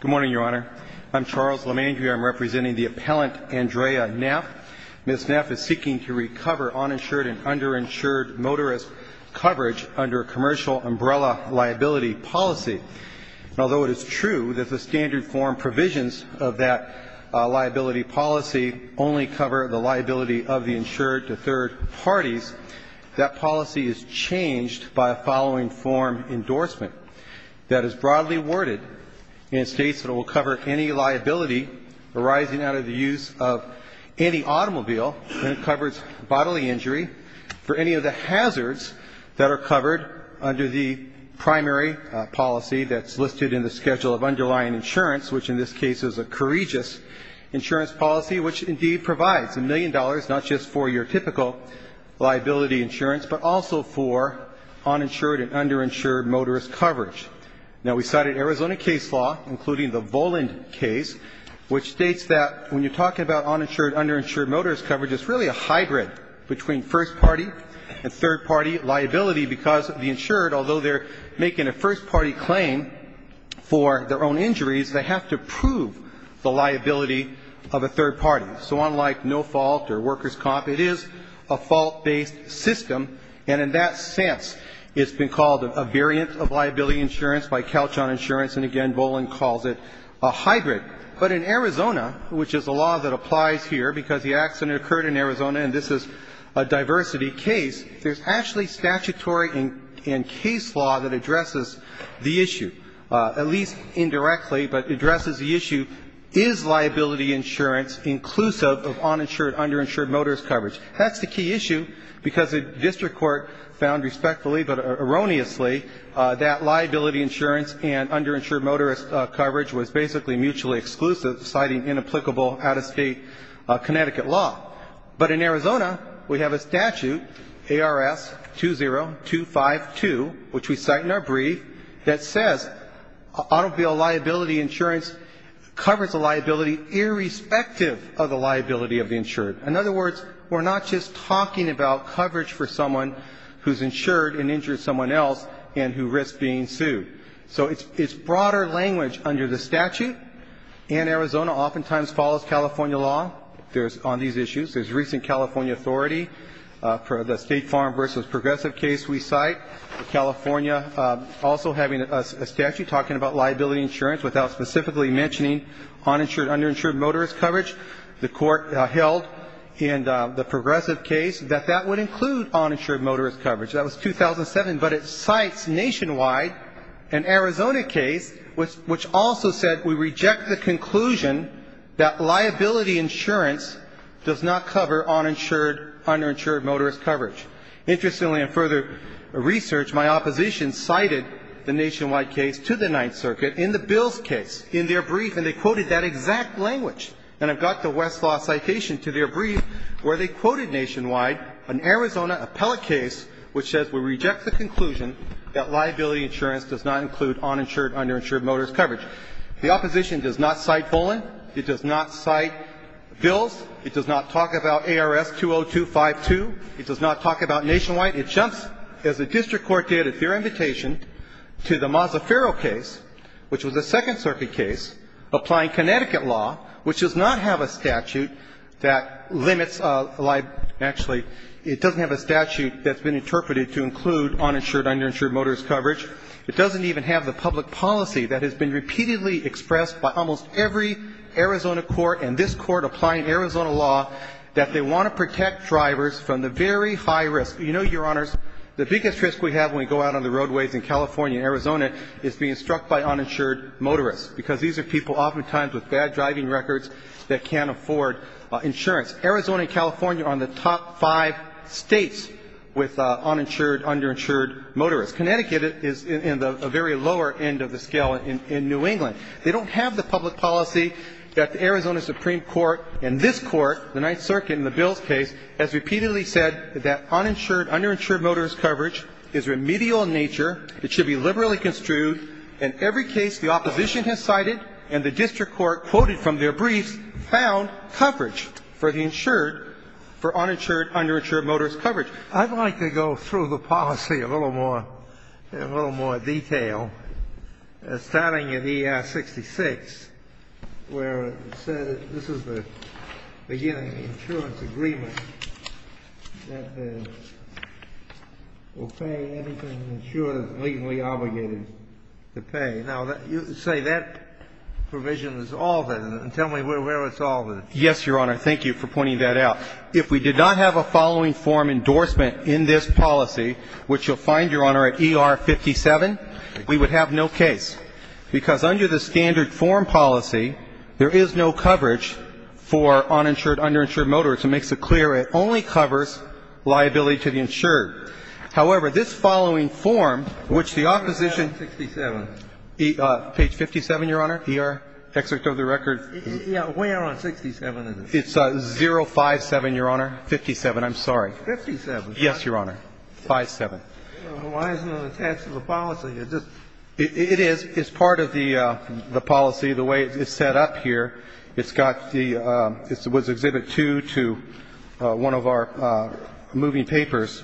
Good morning, Your Honor. I'm Charles Lemangui. I'm representing the appellant Andrea Neff. Ms. Neff is seeking to recover uninsured and underinsured motorist coverage under a commercial umbrella liability policy. Although it is true that the standard form provisions of that liability policy only cover the liability of the insured to third parties, that policy is changed by a following form endorsement that is broadly worded and states that it will cover any liability arising out of the use of any automobile and it covers bodily injury for any of the hazards that are covered under the primary policy that's listed in the schedule of underlying insurance, which in this case is a courageous insurance policy, which indeed provides a million dollars not just for your typical liability insurance, but also for uninsured and underinsured motorist coverage. Now, we cited Arizona case law, including the Voland case, which states that when you're talking about uninsured, underinsured motorist coverage, it's really a hybrid between first-party and third-party liability because the insured, although they're making a first-party claim for their own injuries, they have to prove the liability of a third party. So unlike no fault or workers' comp, it is a fault-based system, and in that sense it's been called a variant of liability insurance by Calchon Insurance, and again Voland calls it a hybrid. But in Arizona, which is a law that applies here because the accident occurred in Arizona and this is a diversity case, there's actually statutory and case law that addresses the issue, at least indirectly, but addresses the issue, is liability insurance inclusive of uninsured, underinsured motorist coverage? That's the key issue because the district court found respectfully but erroneously that liability insurance and underinsured motorist coverage was basically mutually exclusive, citing inapplicable out-of-state Connecticut law. But in Arizona, we have a statute, ARS 20252, which we cite in our brief, that says automobile liability insurance covers the liability irrespective of the liability of the insured. In other words, we're not just talking about coverage for someone who's insured and injures someone else and who risks being sued. So it's broader language under the statute, and Arizona oftentimes follows California law on these issues. There's recent California authority for the State Farm v. Progressive case we cite. California also having a statute talking about liability insurance without specifically mentioning uninsured, underinsured motorist coverage. The Court held in the Progressive case that that would include uninsured motorist coverage. That was 2007. But it cites nationwide an Arizona case which also said we reject the conclusion that liability insurance does not cover uninsured, underinsured motorist coverage. Interestingly, in further research, my opposition cited the nationwide case to the Ninth Circuit in the Bills case in their brief, and they quoted that exact language. And I've got the Westlaw citation to their brief where they quoted nationwide an Arizona appellate case which says we reject the conclusion that liability insurance does not include uninsured, underinsured motorist coverage. The opposition does not cite Volan. It does not cite Bills. It does not talk about ARS 20252. It does not talk about nationwide. It jumps, as the district court did at their invitation, to the Mazzaferro case, which was a Second Circuit case applying Connecticut law, which does not have a statute that limits liability. Actually, it doesn't have a statute that's been interpreted to include uninsured, underinsured motorist coverage. It doesn't even have the public policy that has been repeatedly expressed by almost every Arizona court and this Court applying Arizona law that they want to protect drivers from the very high risk. You know, Your Honors, the biggest risk we have when we go out on the roadways in California and Arizona is being struck by uninsured motorists, because these are people oftentimes with bad driving records that can't afford insurance. Arizona and California are on the top five States with uninsured, underinsured motorists. Connecticut is in the very lower end of the scale in New England. They don't have the public policy that the Arizona Supreme Court and this Court, the Ninth Circuit in the Bill's case, has repeatedly said that uninsured, underinsured motorist coverage is remedial in nature. It should be liberally construed. In every case the opposition has cited and the district court quoted from their briefs found coverage for the insured for uninsured, underinsured motorist coverage. I'd like to go through the policy a little more, in a little more detail. Starting at ER 66, where it said this is the beginning of the insurance agreement that will pay anything an insurer is legally obligated to pay. Now, you say that provision is all there, and tell me where it's all there. Yes, Your Honor. Thank you for pointing that out. If we did not have a following form endorsement in this policy, which you'll find, Your Honor, at ER 57, we would have no case. Because under the standard form policy, there is no coverage for uninsured, underinsured motorists. It makes it clear it only covers liability to the insured. However, this following form, which the opposition ---- Page 57. Page 57, Your Honor, ER, Excerpt of the Record. Yeah. Where on 67 is it? It's 057, Your Honor. 57, I'm sorry. 57. Yes, Your Honor. 57. Why isn't it attached to the policy? It just ---- It is. It's part of the policy, the way it's set up here. It's got the ---- it was Exhibit 2 to one of our moving papers.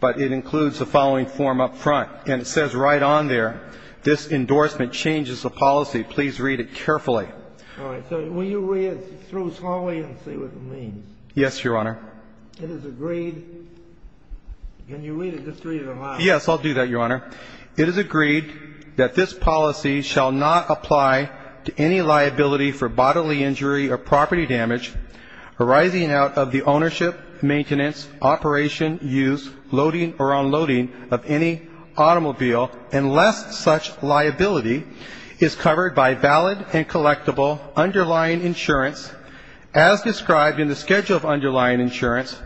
But it includes the following form up front. And it says right on there, this endorsement changes the policy. Please read it carefully. All right. So will you read it through slowly and see what it means? Yes, Your Honor. It is agreed. Can you read it? Just read it aloud. Yes, I'll do that, Your Honor. It is agreed that this policy shall not apply to any liability for bodily injury or property damage arising out of the ownership, maintenance, operation, use, loading or unloading of any automobile unless such liability is covered by valid and collectible underlying insurance as described in the schedule of underlying insurance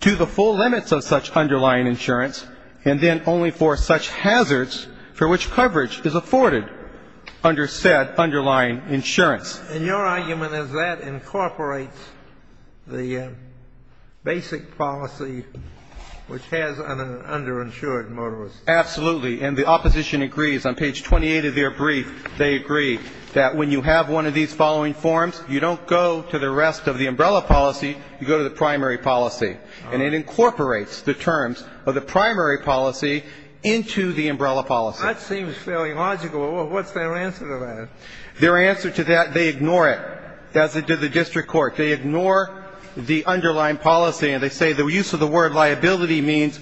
to the full limits of such underlying insurance and then only for such hazards for which coverage is afforded under said underlying insurance. And your argument is that incorporates the basic policy which has an underinsured motorist. Absolutely. And the opposition agrees. On page 28 of their brief, they agree that when you have one of these following forms, you don't go to the rest of the umbrella policy. You go to the primary policy. And it incorporates the terms of the primary policy into the umbrella policy. That seems fairly logical. What's their answer to that? Their answer to that, they ignore it, as they did the district court. They ignore the underlying policy. And they say the use of the word liability means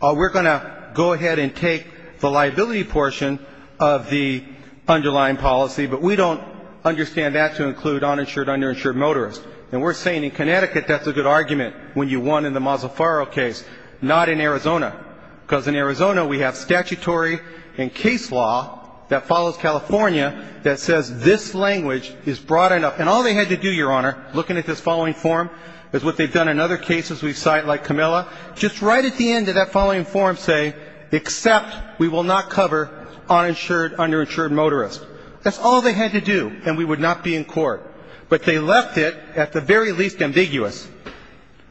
we're going to go ahead and take the liability portion of the underlying policy, but we don't understand that to include uninsured, underinsured motorists. And we're saying in Connecticut that's a good argument when you won in the Mazzofaro case, not in Arizona, because in Arizona we have statutory and case law that follows California that says this language is broad enough. And all they had to do, Your Honor, looking at this following form, is what they've done in other cases we cite like Camilla, just right at the end of that following form say, except we will not cover uninsured, underinsured motorists. That's all they had to do, and we would not be in court. But they left it at the very least ambiguous.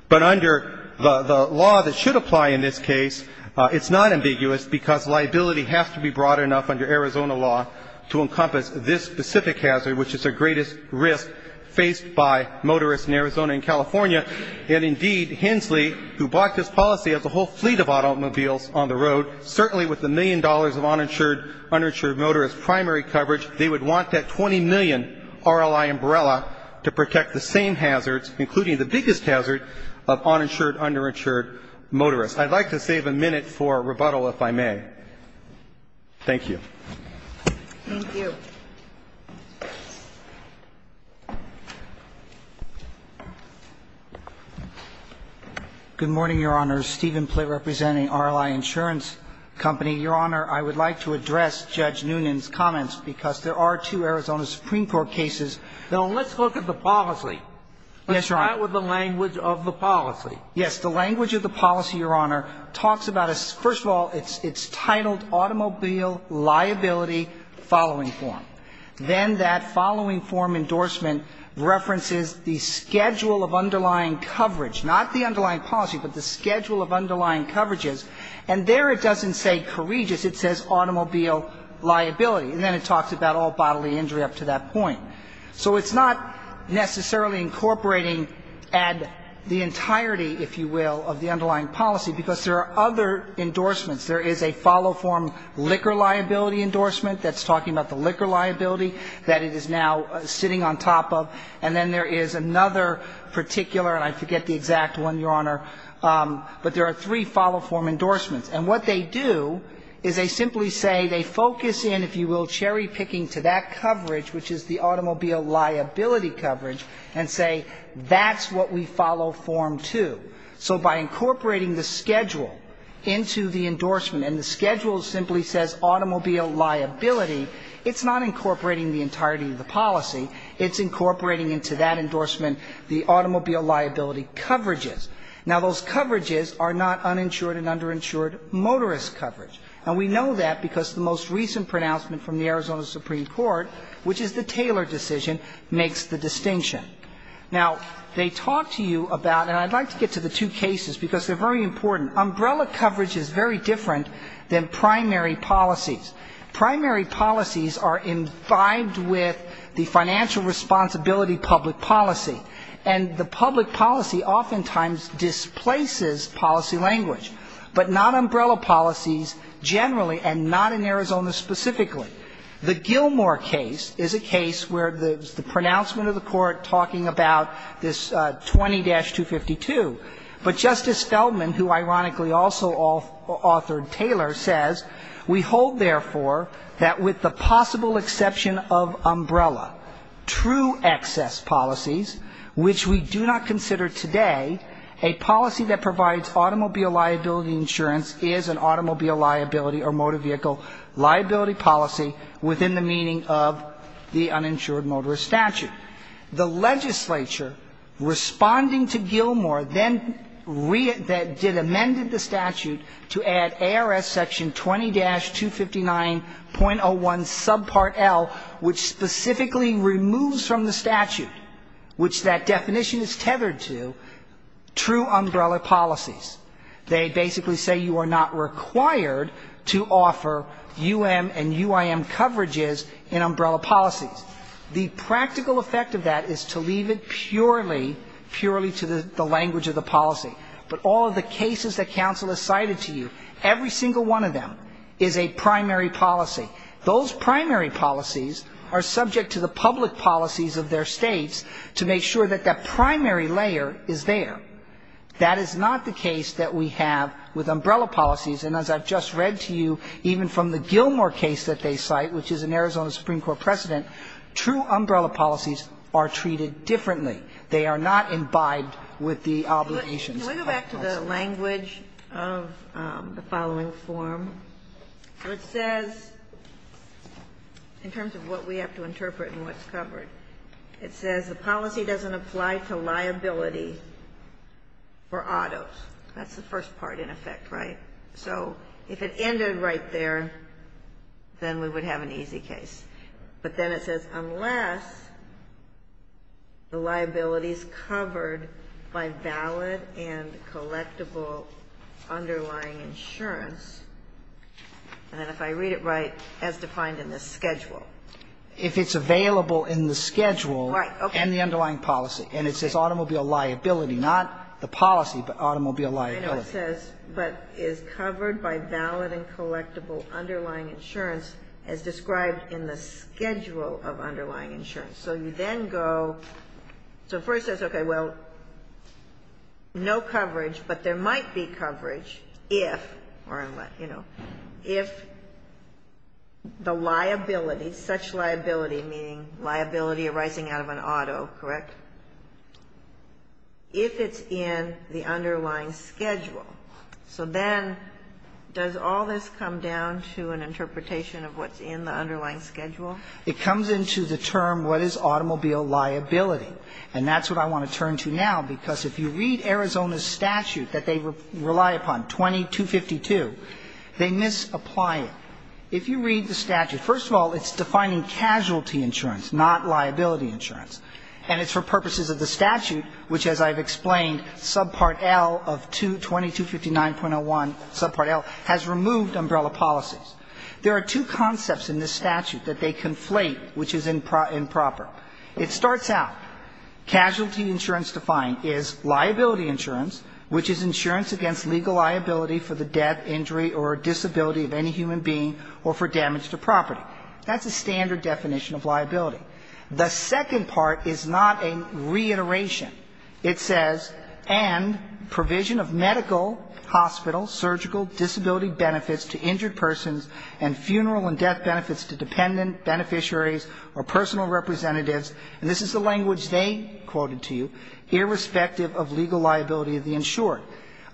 But under the law that should apply in this case, it's not ambiguous because liability has to be broad enough under Arizona law to encompass this specific hazard, which is the greatest risk faced by motorists in Arizona and California. And, indeed, Hensley, who bought this policy, has a whole fleet of automobiles on the road, certainly with the million dollars of uninsured, underinsured motorists' primary coverage. They would want that $20 million RLI umbrella to protect the same hazards, including the biggest hazard of uninsured, underinsured motorists. I'd like to save a minute for rebuttal, if I may. Thank you. Thank you. Good morning, Your Honor. Stephen Plitt representing RLI Insurance Company. Your Honor, I would like to address Judge Noonan's comments because there are two Arizona Supreme Court cases. Now, let's look at the policy. Yes, Your Honor. Let's start with the language of the policy. Yes. The language of the policy, Your Honor, talks about a – first of all, it's titled automobile liability following form. Then that following form endorsement references the schedule of underlying coverage, not the underlying policy, but the schedule of underlying coverages. And there it doesn't say courageous. It says automobile liability. And then it talks about all bodily injury up to that point. So it's not necessarily incorporating the entirety, if you will, of the underlying policy, because there are other endorsements. There is a follow form liquor liability endorsement that's talking about the liquor liability that it is now sitting on top of. And then there is another particular, and I forget the exact one, Your Honor, but there are three follow form endorsements. And what they do is they simply say they focus in, if you will, cherry-picking to that coverage, which is the automobile liability coverage, and say that's what we follow form to. So by incorporating the schedule into the endorsement, and the schedule simply says automobile liability, it's not incorporating the entirety of the policy. It's incorporating into that endorsement the automobile liability coverages. Now, those coverages are not uninsured and underinsured motorist coverage. And we know that because the most recent pronouncement from the Arizona Supreme Court, which is the Taylor decision, makes the distinction. Now, they talk to you about, and I'd like to get to the two cases because they're very important. Umbrella coverage is very different than primary policies. Primary policies are imbibed with the financial responsibility public policy. And the public policy oftentimes displaces policy language. But not umbrella policies generally, and not in Arizona specifically. The Gilmore case is a case where the pronouncement of the court talking about this 20-252. But Justice Feldman, who ironically also authored Taylor, says we hold, therefore, that with the possible exception of umbrella, true excess policies, which we do not is an automobile liability or motor vehicle liability policy within the meaning of the uninsured motorist statute. The legislature, responding to Gilmore, then did amend the statute to add ARS section 20-259.01 subpart L, which specifically removes from the statute, which that definition is tethered to, true umbrella policies. They basically say you are not required to offer UM and UIM coverages in umbrella policies. The practical effect of that is to leave it purely, purely to the language of the policy. But all of the cases that counsel has cited to you, every single one of them is a primary policy. Those primary policies are subject to the public policies of their states to make sure that that primary layer is there. That is not the case that we have with umbrella policies. And as I've just read to you, even from the Gilmore case that they cite, which is an Arizona Supreme Court precedent, true umbrella policies are treated differently. They are not imbibed with the obligations of public policy. Ginsburg. Can we go back to the language of the following form? It says, in terms of what we have to interpret and what's covered, it says the policy doesn't apply to liability for autos. That's the first part, in effect, right? So if it ended right there, then we would have an easy case. But then it says unless the liability is covered by valid and collectible underlying insurance. And then if I read it right, as defined in this schedule. If it's available in the schedule and the underlying policy, and it says automobile liability, not the policy, but automobile liability. It says, but is covered by valid and collectible underlying insurance as described in the schedule of underlying insurance. So you then go, so first it says, okay, well, no coverage, but there might be coverage if or unless, you know, if the liability, such liability, meaning liability arising out of an auto, correct? If it's in the underlying schedule. So then does all this come down to an interpretation of what's in the underlying schedule? It comes into the term what is automobile liability. And that's what I want to turn to now, because if you read Arizona's statute that they rely upon, 2252, they misapply it. If you read the statute, first of all, it's defining casualty insurance, not liability insurance. And it's for purposes of the statute, which, as I've explained, subpart L of 2259.01, subpart L, has removed umbrella policies. There are two concepts in this statute that they conflate, which is improper. It starts out, casualty insurance defined is liability insurance, which is insurance against legal liability for the death, injury or disability of any human being or for damage to property. That's a standard definition of liability. The second part is not a reiteration. It says, and provision of medical, hospital, surgical, disability benefits to injured persons and funeral and death benefits to dependent beneficiaries or personal representatives, and this is the language they quoted to you, irrespective of legal liability of the insured.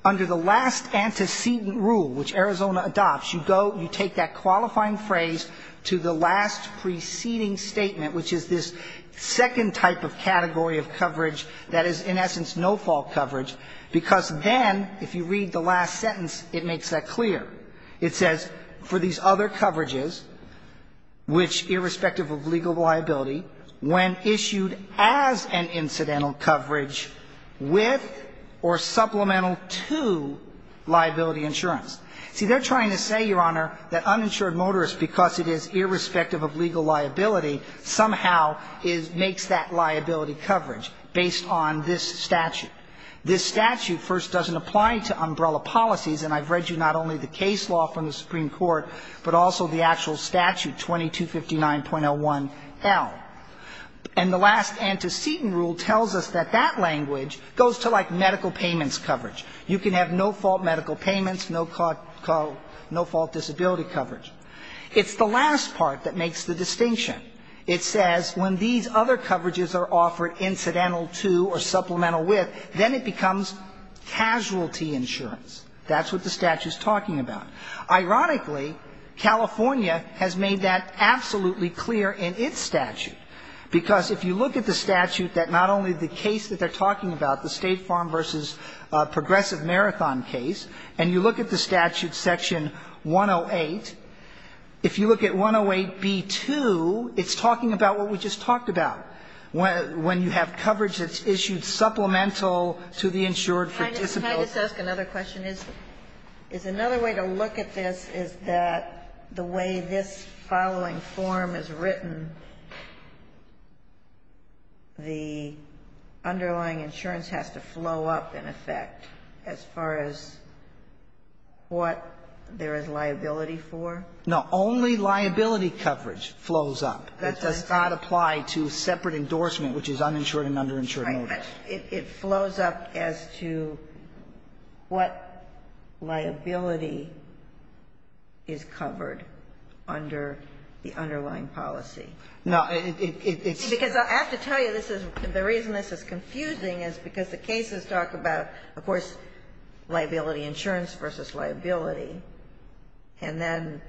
Under the last antecedent rule, which Arizona adopts, you go, you take that qualifying phrase to the last preceding statement, which is this second type of category of coverage that is, in essence, no-fault coverage, because then, if you read the last sentence, it makes that clear. It says, for these other coverages, which, irrespective of legal liability, when issued as an incidental coverage with or supplemental to liability insurance. See, they're trying to say, Your Honor, that uninsured motorists, because it is irrespective of legal liability, somehow makes that liability coverage based on this statute. This statute first doesn't apply to umbrella policies, and I've read you not only the case law from the Supreme Court, but also the actual statute, 2259.01L. And the last antecedent rule tells us that that language goes to, like, medical payments coverage. You can have no-fault medical payments, no-fault disability coverage. It's the last part that makes the distinction. It says, when these other coverages are offered incidental to or supplemental with, then it becomes casualty insurance. That's what the statute's talking about. Ironically, California has made that absolutely clear in its statute, because if you look at the statute that not only the case that they're talking about, the State Farm v. Progressive Marathon case, and you look at the statute section 108, if you look at 108b-2, it's talking about what we just talked about, when you have coverage that's issued supplemental to the insured for disability. Ginsburg. Can I just ask another question? Is another way to look at this is that the way this following form is written, the underlying insurance has to flow up, in effect, as far as what there is liability for? No. Only liability coverage flows up. That does not apply to separate endorsement, which is uninsured and underinsured motives. It flows up as to what liability is covered under the underlying policy. No. It's because I have to tell you, this is the reason this is confusing, is because the cases talk about, of course, liability insurance versus liability, and then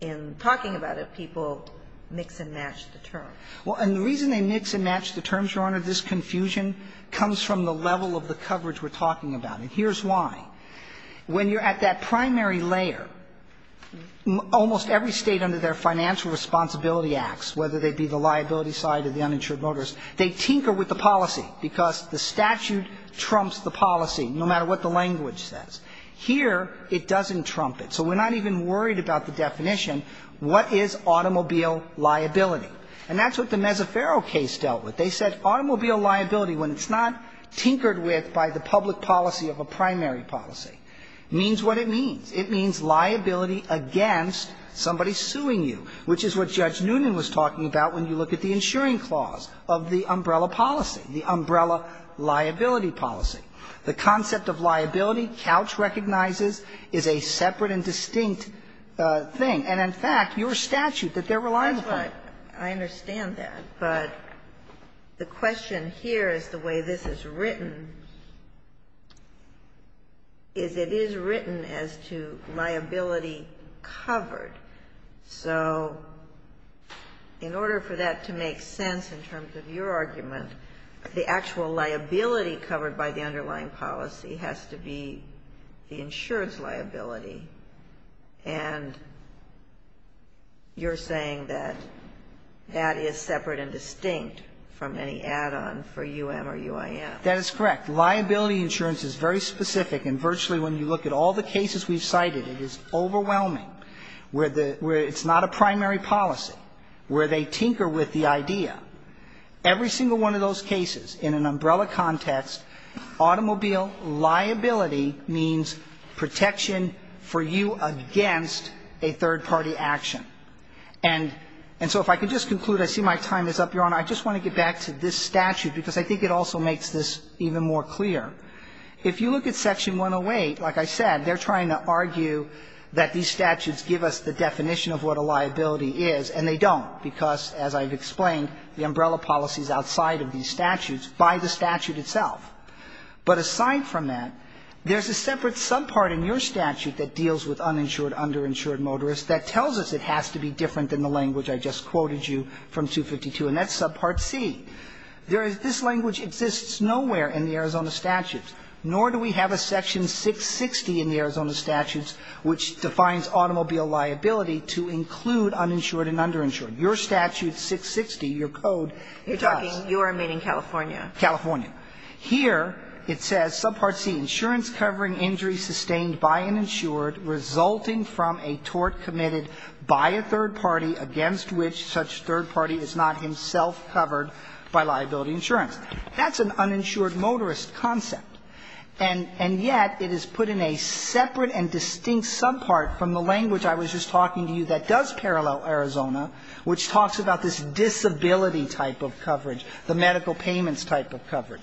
in talking about it, people mix and match the terms. Well, and the reason they mix and match the terms, Your Honor, this confusion comes from the level of the coverage we're talking about. And here's why. When you're at that primary layer, almost every State under their financial responsibility acts, whether they be the liability side or the uninsured motives, they tinker with the policy because the statute trumps the policy, no matter what the language says. Here, it doesn't trump it. So we're not even worried about the definition. What is automobile liability? And that's what the Mezaferro case dealt with. They said automobile liability, when it's not tinkered with by the public policy of a primary policy, means what it means. It means liability against somebody suing you, which is what Judge Noonan was talking about when you look at the insuring clause of the umbrella policy, the umbrella liability policy. The concept of liability, Couch recognizes, is a separate and distinct thing. And in fact, your statute that they're reliant upon. Ginsburg. I understand that, but the question here is the way this is written, is it is written as to liability covered. So in order for that to make sense in terms of your argument, the actual liability covered by the underlying policy has to be the insurance liability. And you're saying that that is separate and distinct from any add-on for U.M. or U.I.M. That is correct. Liability insurance is very specific. And virtually when you look at all the cases we've cited, it is overwhelming where it's not a primary policy, where they tinker with the idea. Every single one of those cases in an umbrella context, automobile liability means protection for you against a third-party action. And so if I could just conclude. I see my time is up, Your Honor. I just want to get back to this statute because I think it also makes this even more clear. If you look at Section 108, like I said, they're trying to argue that these statutes give us the definition of what a liability is, and they don't, because, as I've explained, the umbrella policy is outside of these statutes by the statute itself. But aside from that, there's a separate subpart in your statute that deals with uninsured, underinsured motorists that tells us it has to be different than the language I just quoted you from 252, and that's subpart C. There is this language exists nowhere in the Arizona statutes, nor do we have a section 660 in the Arizona statutes which defines automobile liability to include uninsured and underinsured. Your statute 660, your code, it does. Kagan. You're talking, you are meaning California. California. Here it says, subpart C, insurance covering injury sustained by an insured resulting from a tort committed by a third party against which such third party is not himself covered by liability insurance. That's an uninsured motorist concept, and yet it is put in a separate and distinct subpart from the language I was just talking to you that does parallel Arizona, which talks about this disability type of coverage, the medical payments type of coverage.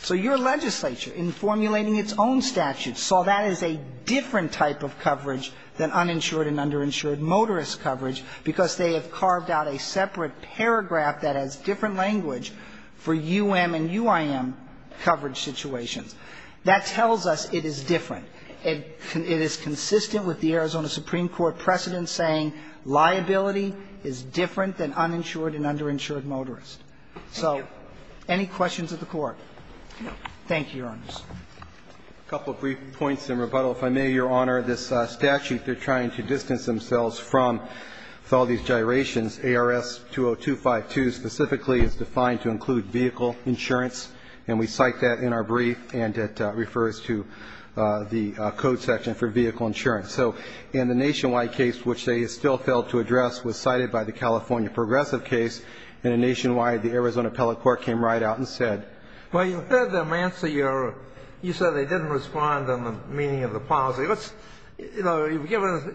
So your legislature, in formulating its own statute, saw that as a different type of coverage than uninsured and underinsured motorist coverage because they have a different language for UM and UIM coverage situations. That tells us it is different. It is consistent with the Arizona Supreme Court precedent saying liability is different than uninsured and underinsured motorist. Thank you. So any questions of the Court? No. Thank you, Your Honors. A couple of brief points in rebuttal. If I may, Your Honor, this statute they're trying to distance themselves from with vehicle insurance, and we cite that in our brief, and it refers to the code section for vehicle insurance. So in the nationwide case, which they still failed to address, was cited by the California progressive case. In a nationwide, the Arizona appellate court came right out and said you said they didn't respond on the meaning of the policy. Let's, you know,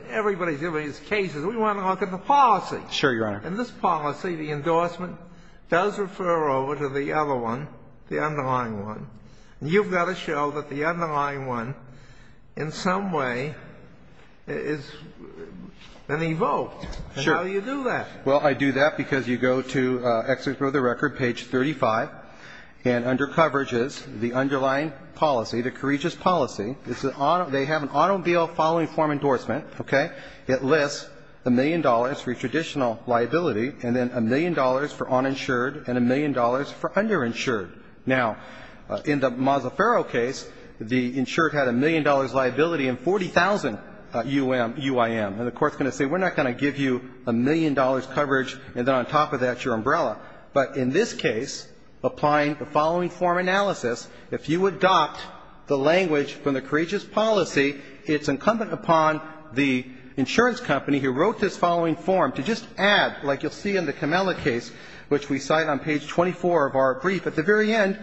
everybody's given these cases. We want to look at the policy. Sure, Your Honor. In this policy, the endorsement does refer over to the other one, the underlying one. And you've got to show that the underlying one in some way is an evoked. Sure. And how do you do that? Well, I do that because you go to the record, page 35, and under coverages, the underlying policy, the courageous policy, they have an automobile following form endorsement, okay? It lists a million dollars for your traditional liability and then a million dollars for uninsured and a million dollars for underinsured. Now, in the Mazzaferro case, the insured had a million dollars liability and 40,000 UIM. And the court's going to say we're not going to give you a million dollars coverage and then on top of that your umbrella. But in this case, applying the following form analysis, if you adopt the language from the courageous policy, it's incumbent upon the insurance company who wrote this following form to just add, like you'll see in the Camela case, which we cite on page 24 of our brief, at the very end,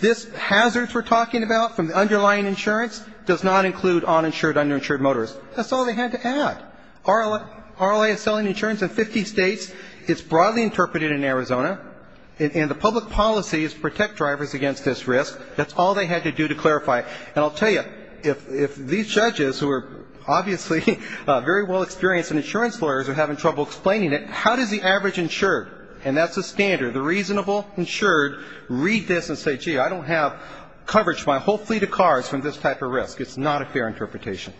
this hazards we're talking about from the underlying insurance does not include uninsured, underinsured motorists. That's all they had to add. RLA is selling insurance in 50 states. It's broadly interpreted in Arizona. And the public policy is protect drivers against this risk. That's all they had to do to clarify. And I'll tell you, if these judges, who are obviously very well experienced in insurance lawyers, are having trouble explaining it, how does the average insured, and that's the standard, the reasonable insured, read this and say, gee, I don't have coverage for my whole fleet of cars from this type of risk? It's not a fair interpretation.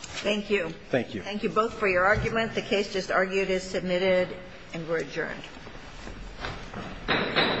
Thank you. Thank you. Thank you both for your argument. The case just argued is submitted and we're adjourned. Thank you.